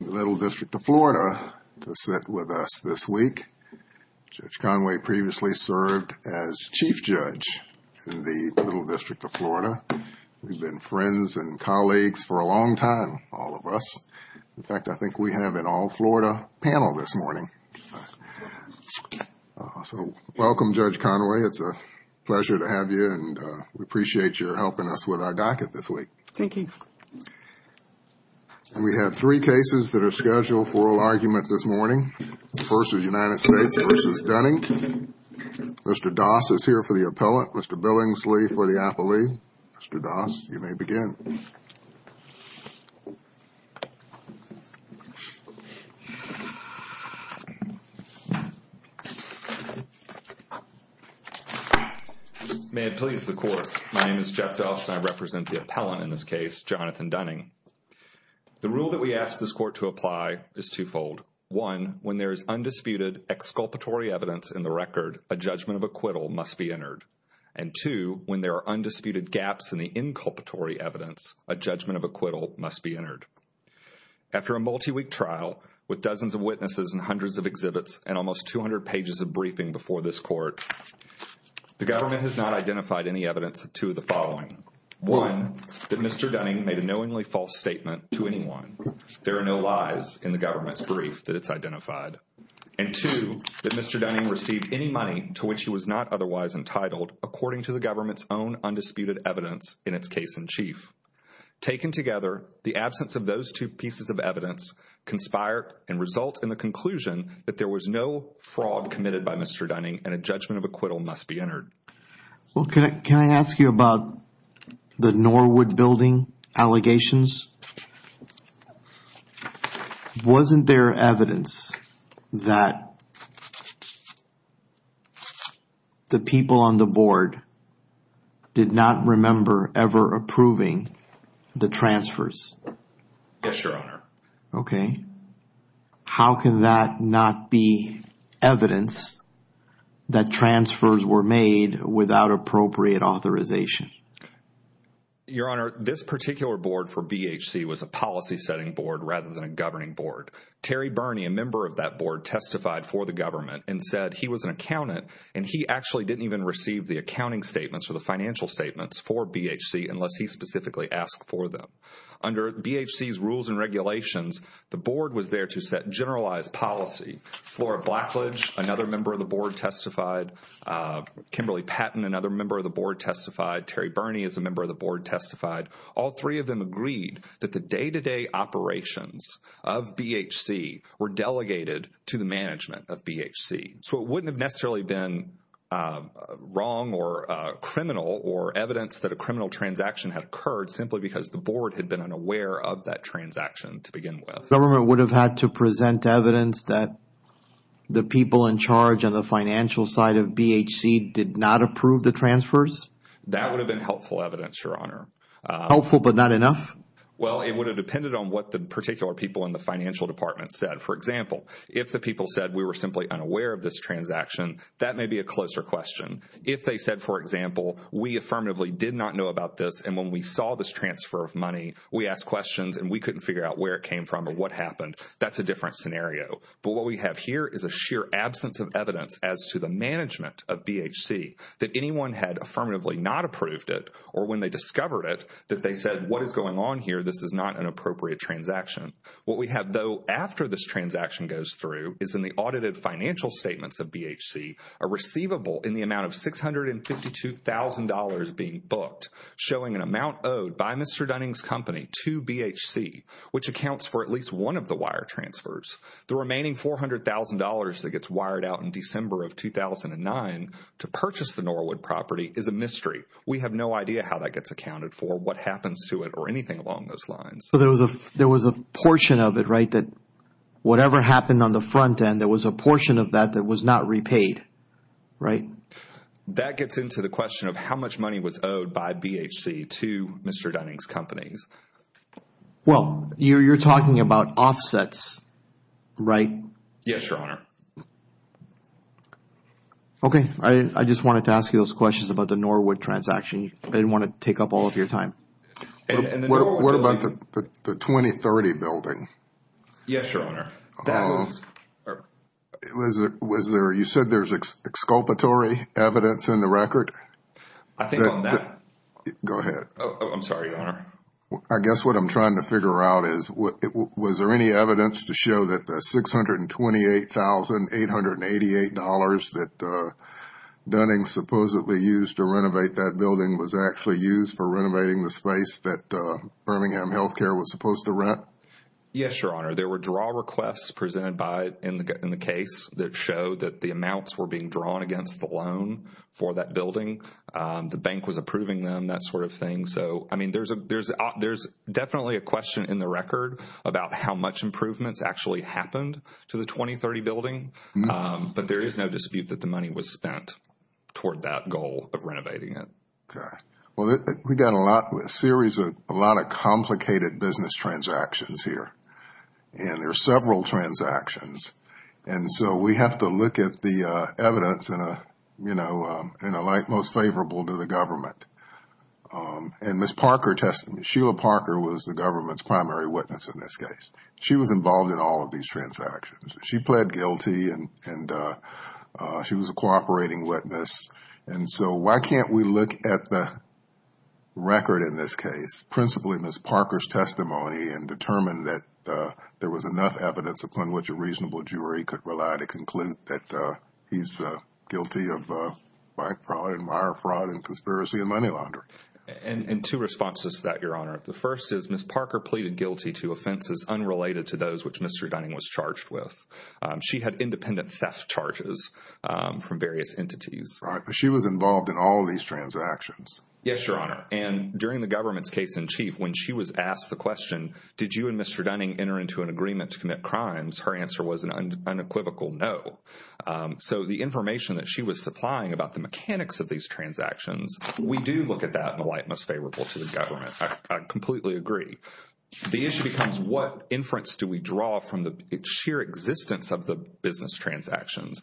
in the Little District of Florida to sit with us this week. Judge Conway previously served as Chief Judge in the Little District of Florida. We've been friends and colleagues for a long time, all of us. In fact, I think we have an all-Florida panel this morning. So, welcome Judge Conway. It's a pleasure to have you and we appreciate your helping us with our docket this week. Thank you. And we have three cases that are scheduled for oral argument this morning. First is United States v. Dunning. Mr. Doss is here for the appellant. Mr. Billingsley for the appellee. Mr. Doss, you may begin. May it please the Court. My name is Jeff Doss and I represent the appellant in this case, Jonathan Dunning. The rule that we ask this Court to apply is twofold. One, when there is undisputed exculpatory evidence in the record, a judgment of acquittal must be entered. And two, when there are undisputed gaps in the inculpatory evidence, a judgment of acquittal must be entered. After a multi-week trial with dozens of witnesses and hundreds of exhibits and almost 200 pages of briefing before this Court, the government has not identified any evidence to the following. One, that Mr. Dunning made a knowingly false statement to anyone. There are no lies in the government's brief that it's identified. And two, that Mr. Dunning received any money to which he was not otherwise entitled according to the government's own undisputed evidence in its case-in-chief. Taken together, the absence of those two pieces of evidence conspire and result in the conclusion that there was no fraud committed by Mr. Dunning and a judgment of acquittal must be entered. Well, can I, can I ask you about the Norwood building allegations? Wasn't there evidence that the people on the board did not remember ever approving the transfers? Yes, Your Honor. Okay. How can that not be evidence that transfers were made without appropriate authorization? Your Honor, this particular board for BHC was a policy-setting board rather than a governing board. Terry Birney, a member of that board, testified for the government and said he was an accountant and he actually didn't even receive the accounting statements or the financial statements for BHC unless he specifically asked for them. Under BHC's regulations, the board was there to set generalized policy. Flora Blackledge, another member of the board, testified. Kimberly Patton, another member of the board, testified. Terry Birney is a member of the board, testified. All three of them agreed that the day-to-day operations of BHC were delegated to the management of BHC. So it wouldn't have necessarily been wrong or criminal or evidence that a criminal transaction had occurred simply because the transaction to begin with. The government would have had to present evidence that the people in charge on the financial side of BHC did not approve the transfers? That would have been helpful evidence, Your Honor. Helpful but not enough? Well, it would have depended on what the particular people in the financial department said. For example, if the people said we were simply unaware of this transaction, that may be a closer question. If they said, for example, we affirmatively did not know about this and when we saw this transfer of money, we asked questions and we couldn't figure out where it came from or what happened, that's a different scenario. But what we have here is a sheer absence of evidence as to the management of BHC that anyone had affirmatively not approved it or when they discovered it, that they said, what is going on here? This is not an appropriate transaction. What we have, though, after this transaction goes through is in the audited financial statements of BHC, a receivable in the amount of $652,000 being booked showing an amount owed by Mr. Dunning's company to BHC, which accounts for at least one of the wire transfers. The remaining $400,000 that gets wired out in December of 2009 to purchase the Norwood property is a mystery. We have no idea how that gets accounted for, what happens to it or anything along those lines. There was a portion of it, right, that whatever happened on the front end, there was a portion of that that was not repaid, right? That gets into the question of how much money was owed by BHC to Mr. Dunning's companies. Well, you're talking about offsets, right? Yes, Your Honor. Okay. I just wanted to ask you those questions about the Norwood transaction. I didn't want to take up all of your time. What about the 2030 building? Yes, Your Honor. You said there's exculpatory evidence in the record? I think on that... Go ahead. I'm sorry, Your Honor. I guess what I'm trying to figure out is was there any evidence to show that the $628,888 that Dunning supposedly used to renovate that building was actually used for renovating the space that Birmingham Healthcare was supposed to rent? Yes, Your Honor. There were draw requests presented in the case that showed that the amounts were being drawn against the loan for that building. The bank was approving them, that sort of thing. There's definitely a question in the record about how much improvements actually happened to the 2030 building, but there is no dispute that the money was spent toward that goal of renovating it. Okay. Well, we've got a series of a lot of complicated business transactions here. There are several transactions, and so we have to look at the evidence in a light most favorable to the government. Sheila Parker was the government's primary witness in this case. She was involved in all of these transactions. She pled guilty, and she was a cooperating witness. And so why can't we look at the record in this case, principally Ms. Parker's testimony, and determine that there was enough evidence upon which a reasonable jury could rely to conclude that he's guilty of bank fraud and wire fraud and conspiracy and money laundering? And two responses to that, Your Honor. The first is Ms. Parker pleaded guilty to offenses unrelated to those which Mr. Dunning was charged with. She had independent theft charges from various entities. She was involved in all of these transactions. Yes, Your Honor. And during the government's case in chief, when she was asked the question, did you and Mr. Dunning enter into an agreement to commit crimes, her answer was an unequivocal no. So the information that she was supplying about the mechanics of these transactions, we do look at that in a light most favorable to the government. I completely agree. The issue becomes what inference do we draw from the sheer existence of the business transactions?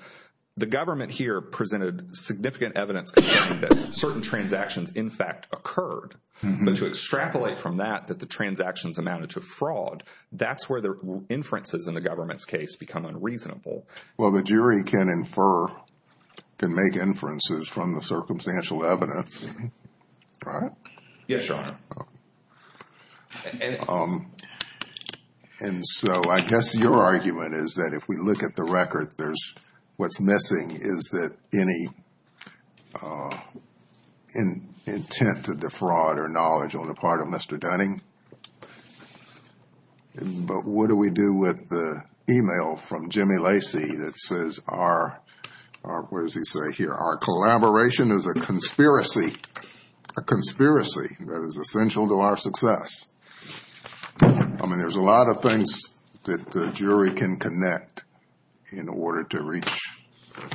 The government here presented significant evidence confirming that certain transactions in fact occurred. But to extrapolate from that that the transactions amounted to fraud, that's where the inferences in the government's case become unreasonable. Well, the jury can infer, can make inferences from the circumstantial evidence, right? Yes, Your Honor. And so I guess your argument is that if we look at the record, there's, what's missing is that any intent to defraud or knowledge on the part of Mr. Dunning. But what do we do with the email from Jimmy Lacey that says our, what does he say here? Our collaboration is a conspiracy, a conspiracy that is essential to our success. I mean, there's a lot of things that the jury can connect in order to reach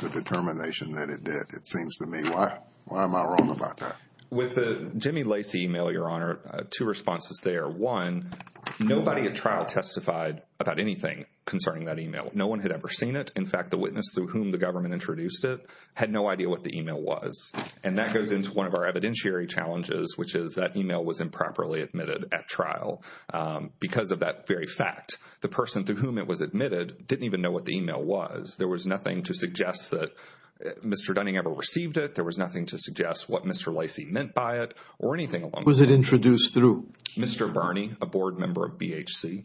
the determination that it did, it seems to me. Why am I wrong about that? With the Jimmy Lacey email, Your Honor, two responses there. One, nobody at trial testified about anything concerning that email. No one had ever seen it. In fact, the witness through whom the government introduced it had no idea what the email was. And that goes into one of our evidentiary challenges, which is that email was improperly admitted at trial because of that very fact. The person through whom it was admitted didn't even know what the email was. There was nothing to suggest that Mr. Dunning ever received it. There was nothing to suggest what Mr. Lacey meant by it or anything along those lines. Was it introduced through? Mr. Bernie, a board member of BHC,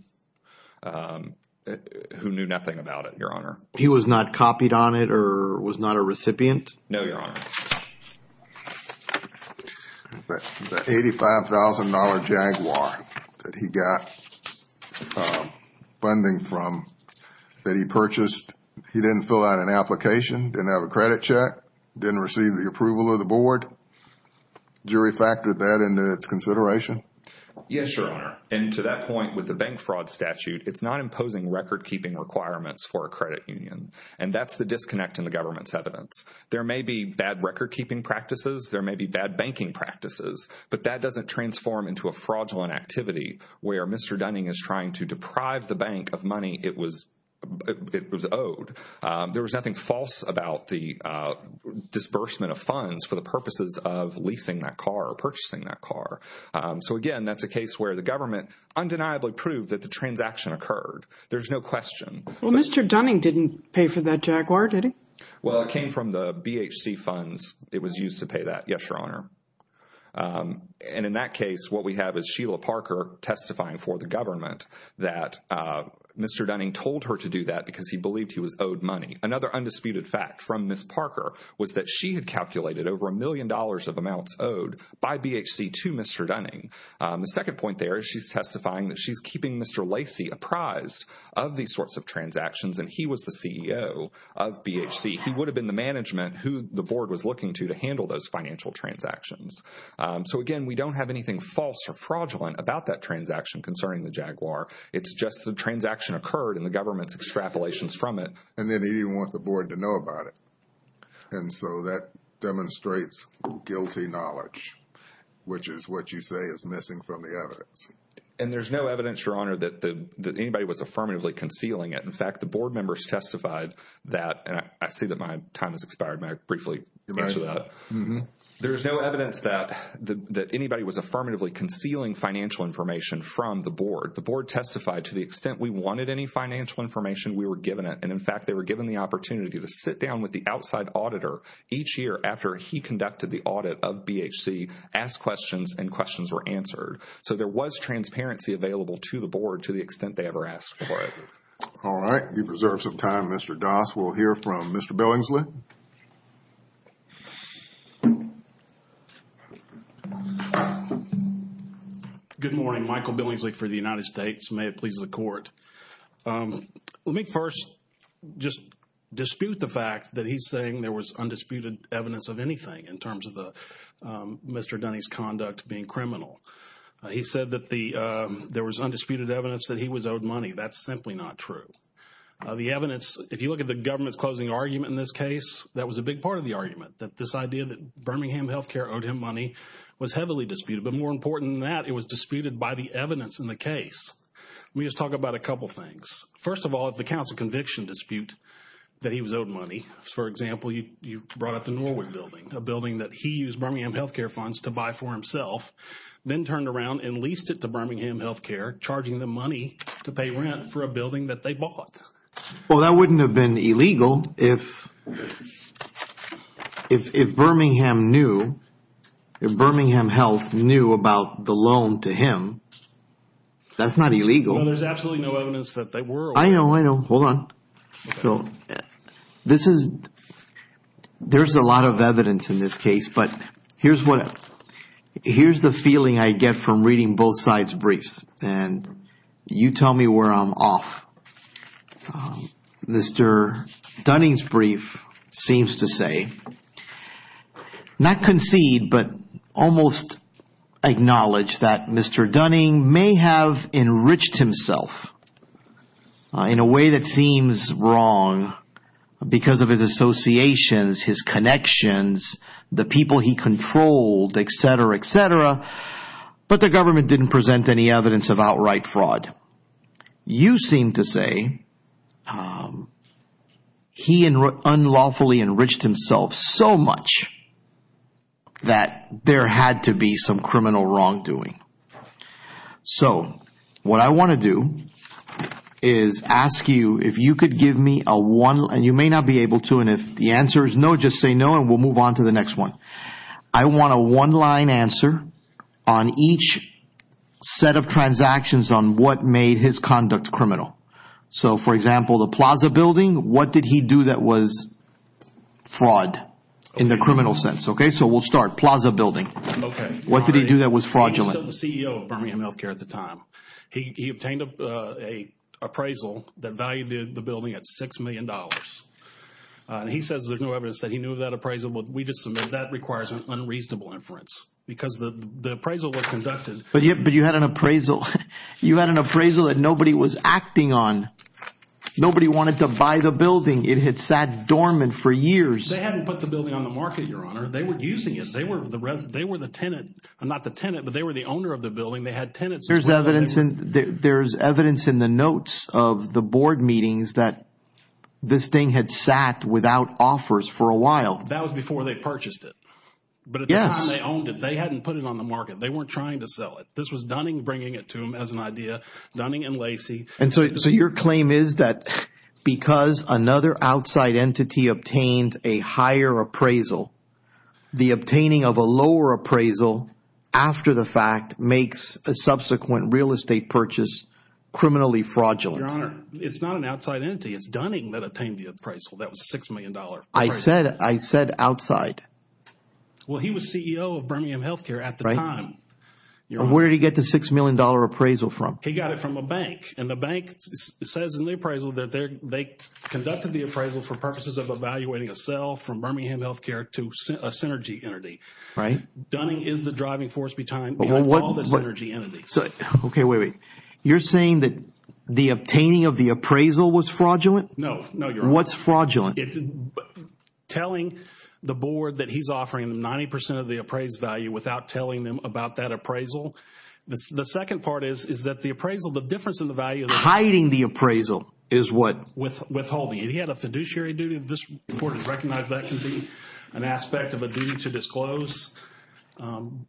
who knew nothing about it, Your Honor. He was not copied on it or was not a recipient? No, Your Honor. The $85,000 Jaguar that he got funding from that he purchased, he didn't fill out an application, didn't have a credit check, didn't receive the approval of the board. Jury factored that into its consideration? Yes, Your Honor. And to that point, with the bank fraud statute, it's not imposing record-keeping requirements for a credit union. And that's the disconnect in the government's evidence. There may be bad record-keeping practices. There may be bad banking practices. But that doesn't transform into a fraudulent activity where Mr. Dunning is trying to deprive the bank of money it was owed. There was nothing false about the disbursement of funds for the purposes of leasing that car or purchasing that car. So, again, that's a case where the government undeniably proved that the transaction occurred. There's no question. Well, Mr. Dunning didn't pay for that Jaguar, did he? Well, it came from the BHC funds. It was used to pay that, yes, Your Honor. And in that case, what we have is Sheila Parker testifying for the government that Mr. Dunning told her to do that because he believed he was owed money. Another undisputed fact from Ms. Parker was that she had calculated over a million dollars of amounts owed by BHC to Mr. Dunning. The second point there is she's testifying that she's keeping Mr. Lacey apprised of these sorts of transactions, and he was the CEO of BHC. He would have been the management who the board was looking to to handle those financial transactions. So, again, we don't have anything false or fraudulent about that transaction concerning the Jaguar. It's just the transaction occurred and the government's extrapolations from it. And then he didn't want the board to know about it. And so that demonstrates guilty knowledge, which is what you say is missing from the evidence. And there's no evidence, Your Honor, that anybody was affirmatively concealing it. In fact, the board members testified that, and I see that my time has expired. May I briefly answer that? There's no evidence that anybody was affirmatively concealing financial information from the board. The board testified to the extent we wanted any financial information, we were given it. And in fact, they were given the opportunity to sit down with the outside auditor each year after he conducted the audit of BHC, ask questions, and questions were answered. So there was transparency available to the board to the extent they ever asked for it. All right. We've reserved some time. Mr. Doss, we'll hear from Mr. Billingsley. Good morning. Michael Billingsley for the United States. May it please the Court. Let me first just dispute the fact that he's saying there was undisputed evidence of anything in terms of Mr. Dunney's conduct being criminal. He said that there was undisputed evidence that he was owed money. That's simply not true. The evidence, if you look at the government's closing argument in this case, that was a big part of the argument, that this idea that Birmingham Health Care owed him money was heavily disputed. But more important than that, it was disputed by the evidence in the case. Let me just talk about a couple things. First of all, if the counts of conviction dispute that he was owed money, for example, you brought up the Norwood building, a building that he used Birmingham Health Care funds to buy for himself, then turned around and leased it to Birmingham Health Care, charging them money to pay rent for a building that they bought. Well, that wouldn't have been illegal if Birmingham Health knew about the loan to him. That's not illegal. No, there's absolutely no evidence that they were. I know, I know. Hold on. So, there's a lot of evidence in this case, but here's the feeling I get from reading both sides' briefs, and you tell me where I'm off. Mr. Dunning's brief seems to say, not concede, but almost acknowledge that Mr. Dunning may have enriched himself in a way that seems wrong because of his associations, his connections, the people he controlled, et cetera, et cetera, but the government didn't present any evidence of outright fraud. You seem to say he unlawfully enriched himself so much that there had to be some criminal wrongdoing. So, what I want to do is ask you if you could give me a one, and you may not be able to, and if the answer is no, just say no, and we'll move on to the next one. I want a one-line answer on each set of transactions on what made his conduct criminal. So, for example, the plaza building, what did he do that was fraud in the criminal sense? Okay, so we'll start. Plaza building. Okay. What did he do that was fraudulent? He was still the CEO of Birmingham Healthcare at the time. He obtained an appraisal that valued the building at $6 million, and he says there's no evidence that he knew of that appraisal, but we just submit that requires unreasonable inference because the appraisal was conducted. But you had an appraisal. You had an appraisal that nobody was acting on. Nobody wanted to buy the building. It had sat dormant for years. They hadn't put the building on the market, Your Honor. They were using it. They were the tenant. Not the tenant, but they were the owner of the building. They had tenants as well. There's evidence in the notes of the board meetings that this thing had sat without offers for a while. That was before they purchased it. Yes. But at the time they owned it. They hadn't put it on the market. They weren't trying to sell it. This was Dunning bringing it to him as an idea, Dunning and Lacey. And so your claim is that because another outside entity obtained a higher appraisal, the obtaining of a lower appraisal after the fact makes a subsequent real estate purchase criminally fraudulent. Your Honor, it's not an outside entity. It's Dunning that obtained the appraisal. That was a $6 million appraisal. I said outside. Well, he was CEO of Birmingham Healthcare at the time. Where did he get the $6 million appraisal from? He got it from a bank. And the bank says in the appraisal that they conducted the appraisal for purposes of a synergy entity. Right. Dunning is the driving force behind all the synergy entities. Okay. Wait, wait. You're saying that the obtaining of the appraisal was fraudulent? No. No, Your Honor. What's fraudulent? Telling the board that he's offering them 90 percent of the appraised value without telling them about that appraisal. The second part is that the appraisal, the difference in the value of the appraisal. Hiding the appraisal is what? Withholding. And he had a fiduciary duty. The board recognized that can be an aspect of a duty to disclose.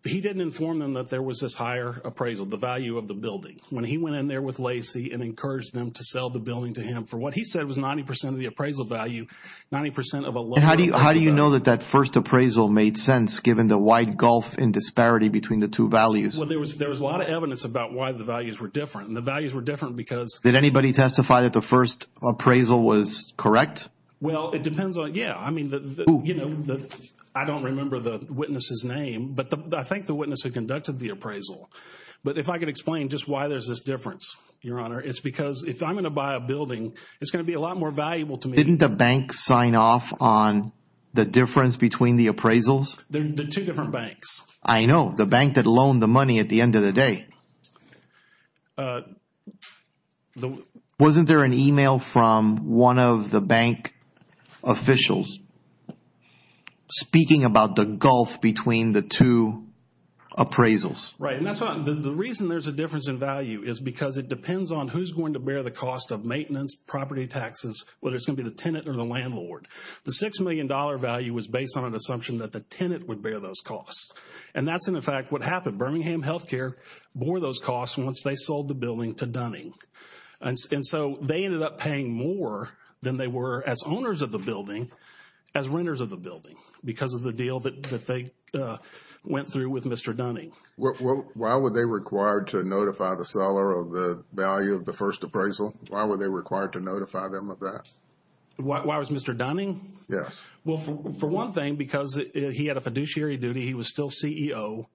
He didn't inform them that there was this higher appraisal, the value of the building. When he went in there with Lacey and encouraged them to sell the building to him for what he said was 90 percent of the appraisal value, 90 percent of a lower appraisal value. How do you know that that first appraisal made sense given the wide gulf in disparity between the two values? Well, there was a lot of evidence about why the values were different. And the values were different because. Did anybody testify that the first appraisal was correct? Well, it depends on. Yeah, I mean, you know, I don't remember the witness's name, but I think the witness had conducted the appraisal. But if I could explain just why there's this difference, Your Honor, it's because if I'm going to buy a building, it's going to be a lot more valuable to me. Didn't the bank sign off on the difference between the appraisals? The two different banks. I know. The bank that loaned the money at the end of the day. Wasn't there an email from one of the bank officials speaking about the gulf between the two appraisals? Right. And that's not. The reason there's a difference in value is because it depends on who's going to bear the cost of maintenance, property taxes, whether it's going to be the tenant or the landlord. The $6 million value was based on an assumption that the tenant would bear those costs. And that's, in fact, what happened. Birmingham Health Care bore those costs once they sold the building to Dunning. And so they ended up paying more than they were as owners of the building as renters of the building because of the deal that they went through with Mr. Dunning. Why were they required to notify the seller of the value of the first appraisal? Why were they required to notify them of that? Why was Mr. Dunning? Yes. Well, for one thing, because he had a fiduciary duty, he was still CEO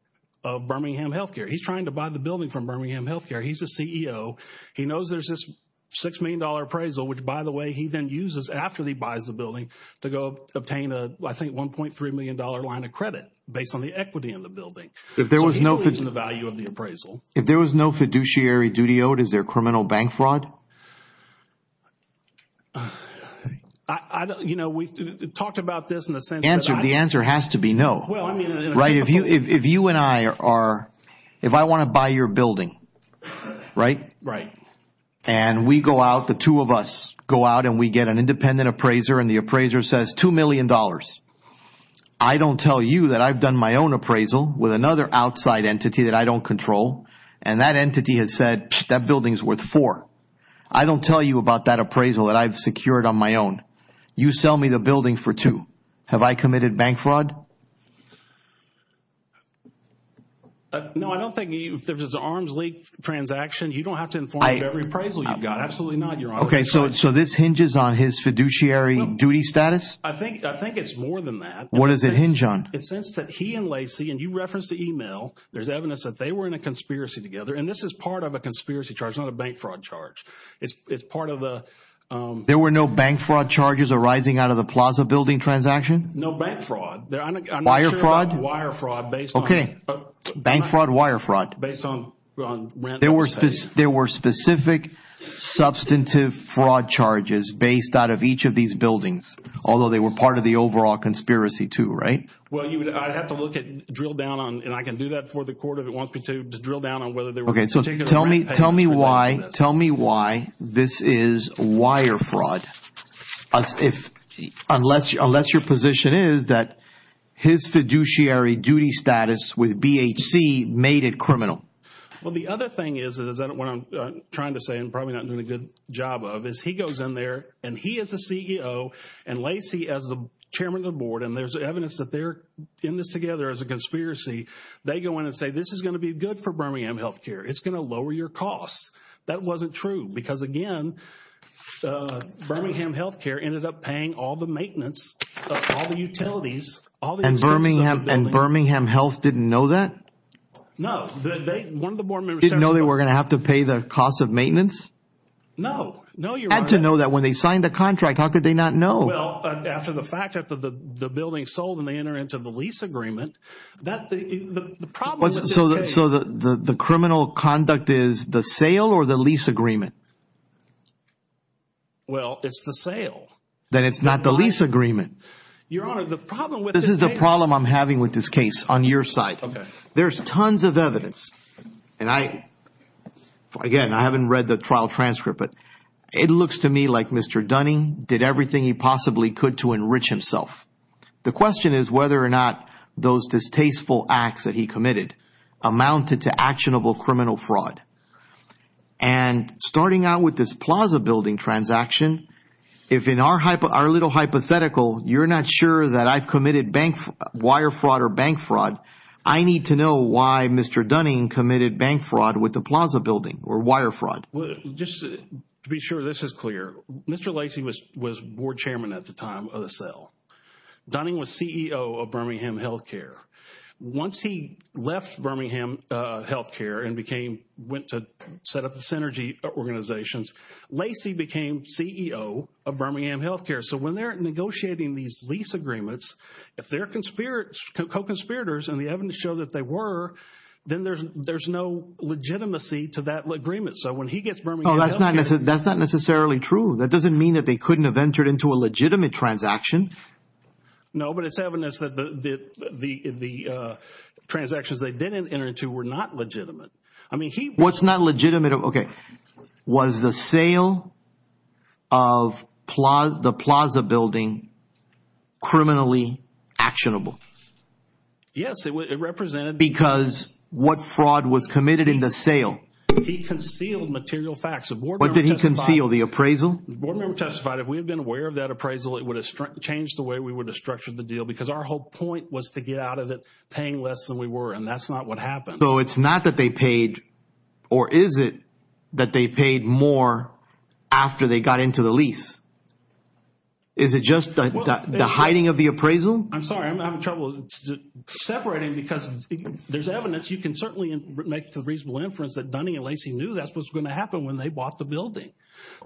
of Birmingham Health Care. He's trying to buy the building from Birmingham Health Care. He's a CEO. He knows there's this $6 million appraisal, which, by the way, he then uses after he buys the building to go obtain a, I think, $1.3 million line of credit based on the equity in the building. So he believes in the value of the appraisal. If there was no fiduciary duty owed, is there criminal bank fraud? I don't, you know, we've talked about this in the sense that I... Answer. The answer has to be no. Well, I mean... Right. If you and I are, if I want to buy your building, right? Right. And we go out, the two of us go out and we get an independent appraiser and the appraiser says $2 million. I don't tell you that I've done my own appraisal with another outside entity that I don't control. And that entity has said, that building's worth four. I don't tell you about that appraisal that I've secured on my own. You sell me the building for two. Have I committed bank fraud? No, I don't think there's an arms leak transaction. You don't have to inform me of every appraisal you've got. Absolutely not, Your Honor. Okay, so this hinges on his fiduciary duty status? I think it's more than that. What does it hinge on? It's since that he and Lacey, and you referenced the email, there's evidence that they were in a conspiracy together. And this is part of a conspiracy charge, not a bank fraud charge. It's part of the... There were no bank fraud charges arising out of the Plaza building transaction? No bank fraud. Wire fraud? I'm not sure about wire fraud based on... Okay, bank fraud, wire fraud. Based on... There were specific substantive fraud charges based out of each of these buildings, although they were part of the overall conspiracy too, right? Well, I'd have to look at, drill down on, and I can do that for the court if it wants me to, to drill down on whether they were... Okay, so tell me why this is wire fraud, unless your position is that his fiduciary duty status with BHC made it criminal? Well, the other thing is, what I'm trying to say and probably not doing a good job of, is he goes in there, and he is the CEO, and Lacey as the chairman of the board, and there's evidence that they're in this together as a conspiracy. They go in and say, this is going to be good for Birmingham Healthcare, it's going to lower your costs. That wasn't true, because again, Birmingham Healthcare ended up paying all the maintenance, all the utilities, all the expense of the building. And Birmingham Health didn't know that? No, one of the board members... Didn't know they were going to have to pay the cost of maintenance? No, no you're right. Had to know that when they signed the contract, how could they not know? Well, after the fact, after the building sold and they enter into the lease agreement, the problem with this case... So the criminal conduct is the sale or the lease agreement? Well, it's the sale. Then it's not the lease agreement. Your Honor, the problem with this case... This is the problem I'm having with this case, on your side. Okay. There's tons of evidence, and again, I haven't read the trial transcript, but it looks to me like Mr. Dunning did everything he possibly could to enrich himself. The question is whether or not those distasteful acts that he committed amounted to actionable criminal fraud. And starting out with this plaza building transaction, if in our little hypothetical, you're not sure that I've committed wire fraud or bank fraud, I need to know why Mr. Dunning committed bank fraud with the plaza building or wire fraud. Just to be sure this is clear, Mr. Lacey was board chairman at the time of the sale. Dunning was CEO of Birmingham Healthcare. Once he left Birmingham Healthcare and went to set up the Synergy Organizations, Lacey became CEO of Birmingham Healthcare. So when they're negotiating these lease agreements, if they're co-conspirators and the evidence shows that they were, then there's no legitimacy to that agreement. So when he gets Birmingham Healthcare- Oh, that's not necessarily true. That doesn't mean that they couldn't have entered into a legitimate transaction. No, but it's evidence that the transactions they didn't enter into were not legitimate. I mean, he- What's not legitimate? Okay. Was the sale of the plaza building criminally actionable? Yes, it represented- Because what fraud was committed in the sale? He concealed material facts. What did he conceal, the appraisal? The board member testified, if we had been aware of that appraisal, it would have changed the way we would have structured the deal because our whole point was to get out of it paying less than we were, and that's not what happened. So it's not that they paid, or is it that they paid more after they got into the lease? Is it just the hiding of the appraisal? I'm sorry, I'm having trouble separating because there's evidence. You can certainly make the reasonable inference that Dunning and Lacey knew that's what's going to happen when they bought the building.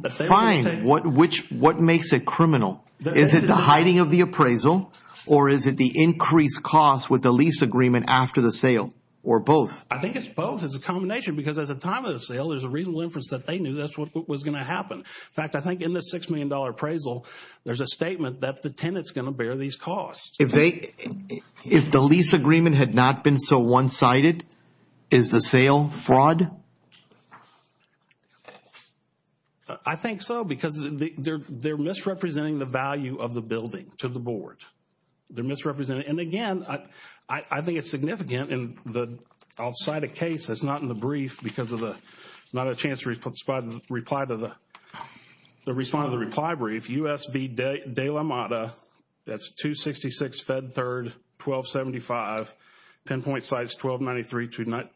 Fine. What makes it criminal? Is it the hiding of the appraisal, or is it the increased cost with the lease agreement after the sale, or both? I think it's both. It's a combination because at the time of the sale, there's a reasonable inference that they knew that's what was going to happen. In fact, I think in the $6 million appraisal, there's a statement that the tenant's going to bear these costs. If the lease agreement had not been so one-sided, is the sale fraud? I think so, because they're misrepresenting the value of the building to the board. They're misrepresenting. And again, I think it's significant, and I'll cite a case that's not in the brief because of not a chance to respond to the reply brief. USV De La Mata, that's 266 Fed 3rd, 1275, pinpoint sites 1293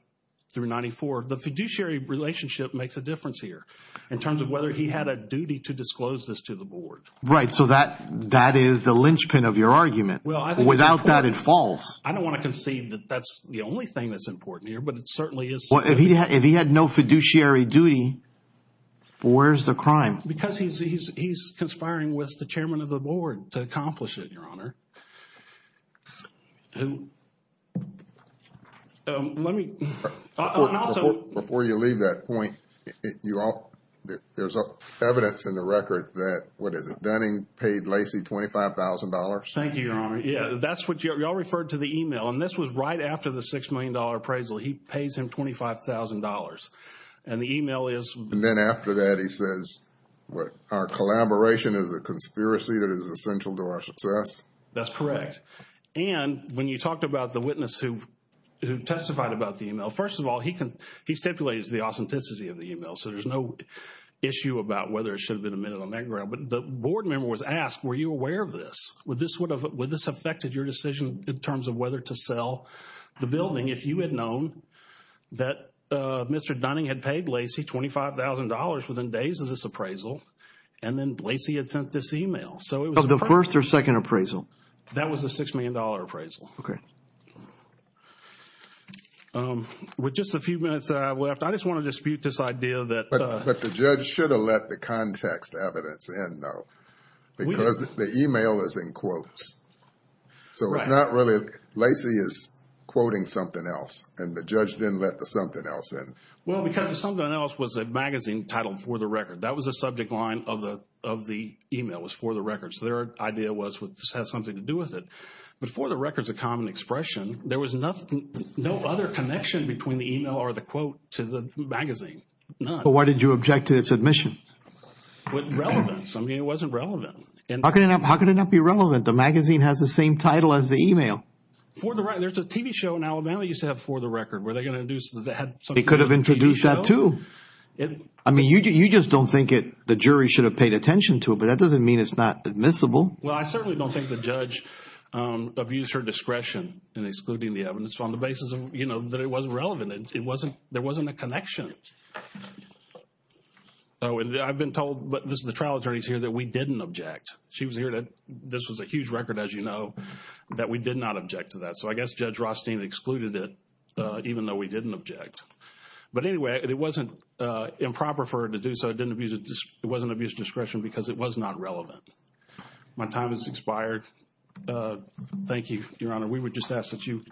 through 94. The fiduciary relationship makes a difference here in terms of whether he had a duty to disclose this to the board. Right, so that is the linchpin of your argument. Without that, it falls. I don't want to concede that that's the only thing that's important here, but it certainly is significant. If he had no fiduciary duty, where's the crime? Because he's conspiring with the chairman of the board to accomplish it, Your Honor. Before you leave that point, there's evidence in the record that, what is it, Dunning paid Lacey $25,000? Thank you, Your Honor. Yeah, that's what y'all referred to the email, and this was right after the $6 million appraisal. He pays him $25,000, and the email is... And then after that, he says, what, our collaboration is a conspiracy that is essential to our success? That's correct, and when you talked about the witness who testified about the email, first of all, he stipulates the authenticity of the email, so there's no issue about whether it should have been admitted on that ground, but the board member was asked, were you aware of this? Would this have affected your decision in terms of whether to sell the building if you had known that Mr. Dunning had paid Lacey $25,000 within days of this appraisal, and then Lacey had sent this email? Of the first or second appraisal? That was the $6 million appraisal. Okay. With just a few minutes left, I just want to dispute this idea that... But the judge should have let the context evidence in, though, because the email is in quotes. Right. So it's not really... Lacey is quoting something else, and the judge didn't let the something else in. Well, because the something else was a magazine titled For the Record. That was the subject line of the email, was For the Record, so their idea was this has something to do with it. But For the Record is a common expression. There was no other connection between the email or the quote to the magazine, none. But why did you object to its admission? It wasn't relevant. In some ways, it wasn't relevant. How could it not be relevant? The magazine has the same title as the email. For the Record. There's a TV show in Alabama that used to have For the Record. Were they going to introduce... They could have introduced that, too. I mean, you just don't think the jury should have paid attention to it, but that doesn't mean it's not admissible. Well, I certainly don't think the judge abused her discretion in excluding the evidence on the basis that it wasn't relevant. There wasn't a connection. I've been told, but this is the trial attorney's here, that we didn't object. She was here. This was a huge record, as you know, that we did not object to that. So I guess Judge Rothstein excluded it, even though we didn't object. But anyway, it wasn't improper for her to do so. It didn't abuse... It wasn't abuse of discretion because it was not relevant. My time has expired. Thank you, Your Honor. We would just ask that you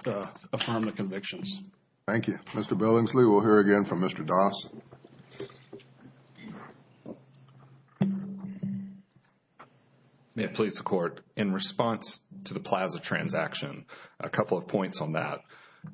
affirm the convictions. Thank you. Mr. Billingsley, we'll hear again from Mr. Dunn. Mr. Dawes. May it please the Court. In response to the Plaza transaction, a couple of points on that.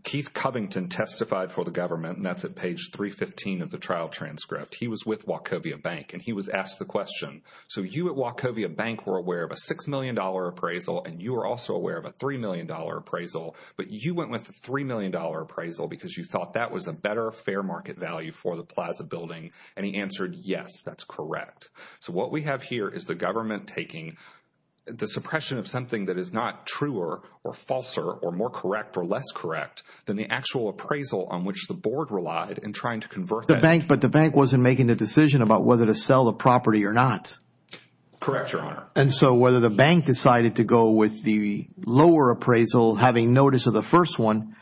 Keith Covington testified for the government, and that's at page 315 of the trial transcript. He was with Wachovia Bank, and he was asked the question. So you at Wachovia Bank were aware of a $6 million appraisal, and you were also aware of a $3 million appraisal. But you went with the $3 million appraisal because you thought that was a better fair market value for the Plaza building, and he answered, yes, that's correct. So what we have here is the government taking the suppression of something that is not truer or falser or more correct or less correct than the actual appraisal on which the board relied in trying to convert the bank. But the bank wasn't making the decision about whether to sell the property or not. Correct, Your Honor. And so whether the bank decided to go with the lower appraisal, having notice of the first one,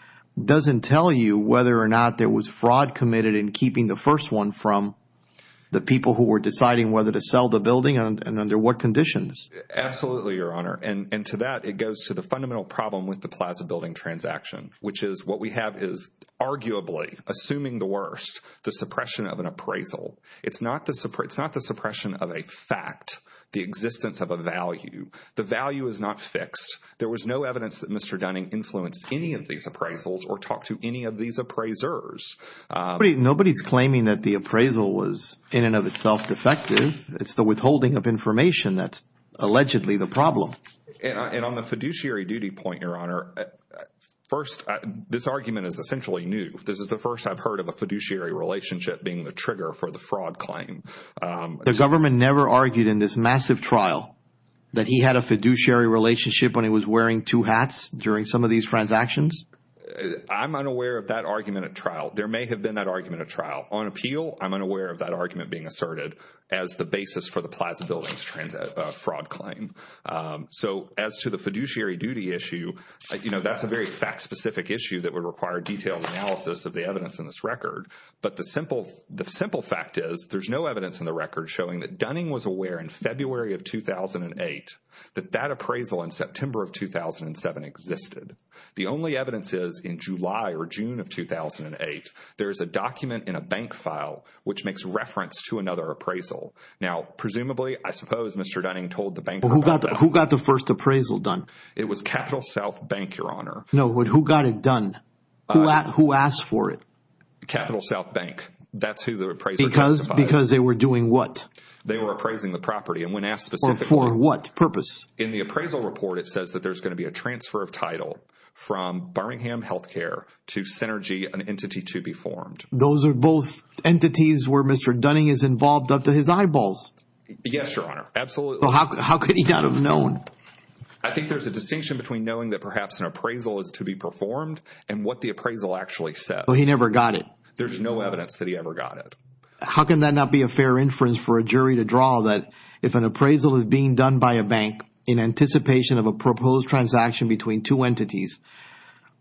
doesn't tell you whether or not there was fraud committed in keeping the first one from the people who were deciding whether to sell the building and under what conditions. Absolutely, Your Honor. And to that, it goes to the fundamental problem with the Plaza building transaction, which is what we have is arguably, assuming the worst, the suppression of an appraisal. It's not the suppression of a fact, the existence of a value. The value is not fixed. There was no evidence that Mr. Dunning influenced any of these appraisals or talked to any of these appraisers. Nobody's claiming that the appraisal was in and of itself defective. It's the withholding of information that's allegedly the problem. And on the fiduciary duty point, Your Honor, first, this argument is essentially new. This is the first I've heard of a fiduciary relationship being the trigger for the fraud claim. The government never argued in this massive trial that he had a fiduciary relationship when he was wearing two hats during some of these transactions? I'm unaware of that argument at trial. There may have been that argument at trial. On appeal, I'm unaware of that argument being asserted as the basis for the Plaza building fraud claim. So as to the fiduciary duty issue, that's a very fact-specific issue that would require detailed analysis of the evidence in this record. But the simple fact is there's no evidence in the record showing that Dunning was aware in February of 2008 that that appraisal in September of 2007 existed. The only evidence is in July or June of 2008, there's a document in a bank file which makes reference to another appraisal. Now, presumably, I suppose Mr. Dunning told the bank about that. Who got the first appraisal done? It was Capital South Bank, Your Honor. No, who got it done? Who asked for it? Capital South Bank. That's who the appraiser testified. Because they were doing what? They were appraising the property and when asked specifically. For what purpose? In the appraisal report, it says that there's going to be a transfer of title from Birmingham Health Care to Synergy, an entity to be formed. Those are both entities where Mr. Dunning is involved up to his eyeballs. Yes, Your Honor. Absolutely. How could he not have known? I think there's a distinction between knowing that perhaps an appraisal is to be performed and what the appraisal actually says. So he never got it? There's no evidence that he ever got it. How can that not be a fair inference for a jury to draw that if an appraisal is being done by a bank in anticipation of a proposed transaction between two entities,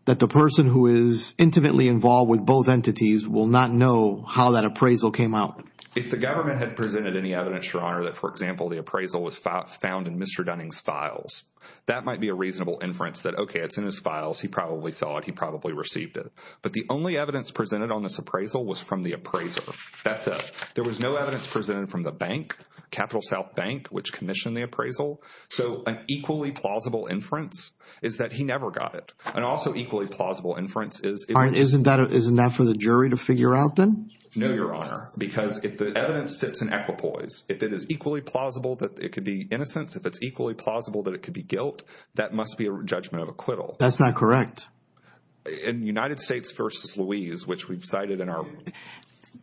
that the person who is intimately involved with both entities will not know how that appraisal came out? If the government had presented any evidence, Your Honor, that, for example, the appraisal was found in Mr. Dunning's files, that might be a reasonable inference that, okay, it's in his files. He probably saw it. He probably received it. But the only evidence presented on this appraisal was from the appraiser. That's it. There was no evidence presented from the bank, Capital South Bank, which commissioned the appraisal. So an equally plausible inference is that he never got it. And also equally plausible inference is... All right. Isn't that for the jury to figure out then? No, Your Honor, because if the evidence sits in equipoise, if it is equally plausible that it could be innocence, if it's equally plausible that it could be guilt, that must be a judgment of acquittal. That's not correct. In United States v. Louise, which we've cited in our...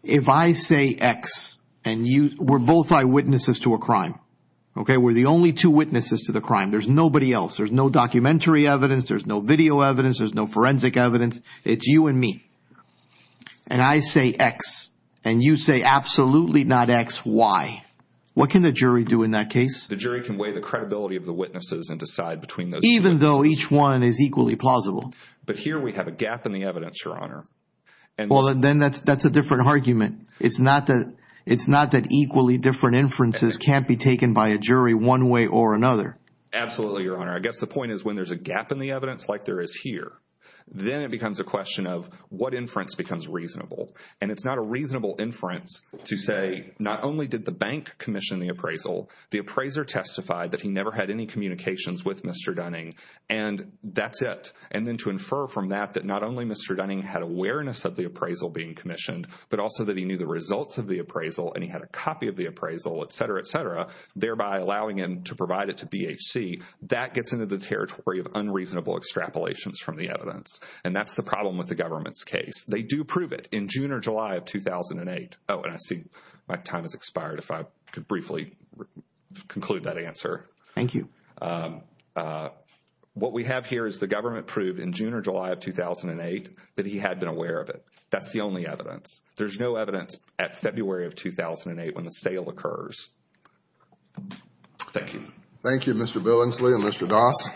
If I say X and you... We're both eyewitnesses to a crime, okay? We're the only two witnesses to the crime. There's nobody else. There's no documentary evidence. There's no video evidence. There's no forensic evidence. It's you and me. And I say X and you say absolutely not X, Y. What can the jury do in that case? The jury can weigh the credibility of the witnesses and decide between those... Even though each one is equally plausible. But here we have a gap in the evidence, Your Honor. Well, then that's a different argument. It's not that equally different inferences can't be taken by a jury one way or another. Absolutely, Your Honor. I guess the point is when there's a gap in the evidence like there is here, then it becomes a question of what inference becomes reasonable. And it's not a reasonable inference to say not only did the bank commission the appraisal, the appraiser testified that he never had any communications with Mr. Dunning, and that's it. And then to infer from that that not only Mr. Dunning had awareness of the appraisal being commissioned, but also that he knew the results of the appraisal and he had a copy of the appraisal, et cetera, et cetera, thereby allowing him to provide it to BHC, that gets into the territory of unreasonable extrapolations from the evidence. And that's the problem with the government's case. They do prove it in June or July of 2008. Oh, and I see my time has expired if I could briefly conclude that answer. Thank you. What we have here is the government proved in June or July of 2008 that he had been aware of it. That's the only evidence. There's no evidence at February of 2008 when the sale occurs. Thank you. Thank you, Mr. Billingsley and Mr. Doss.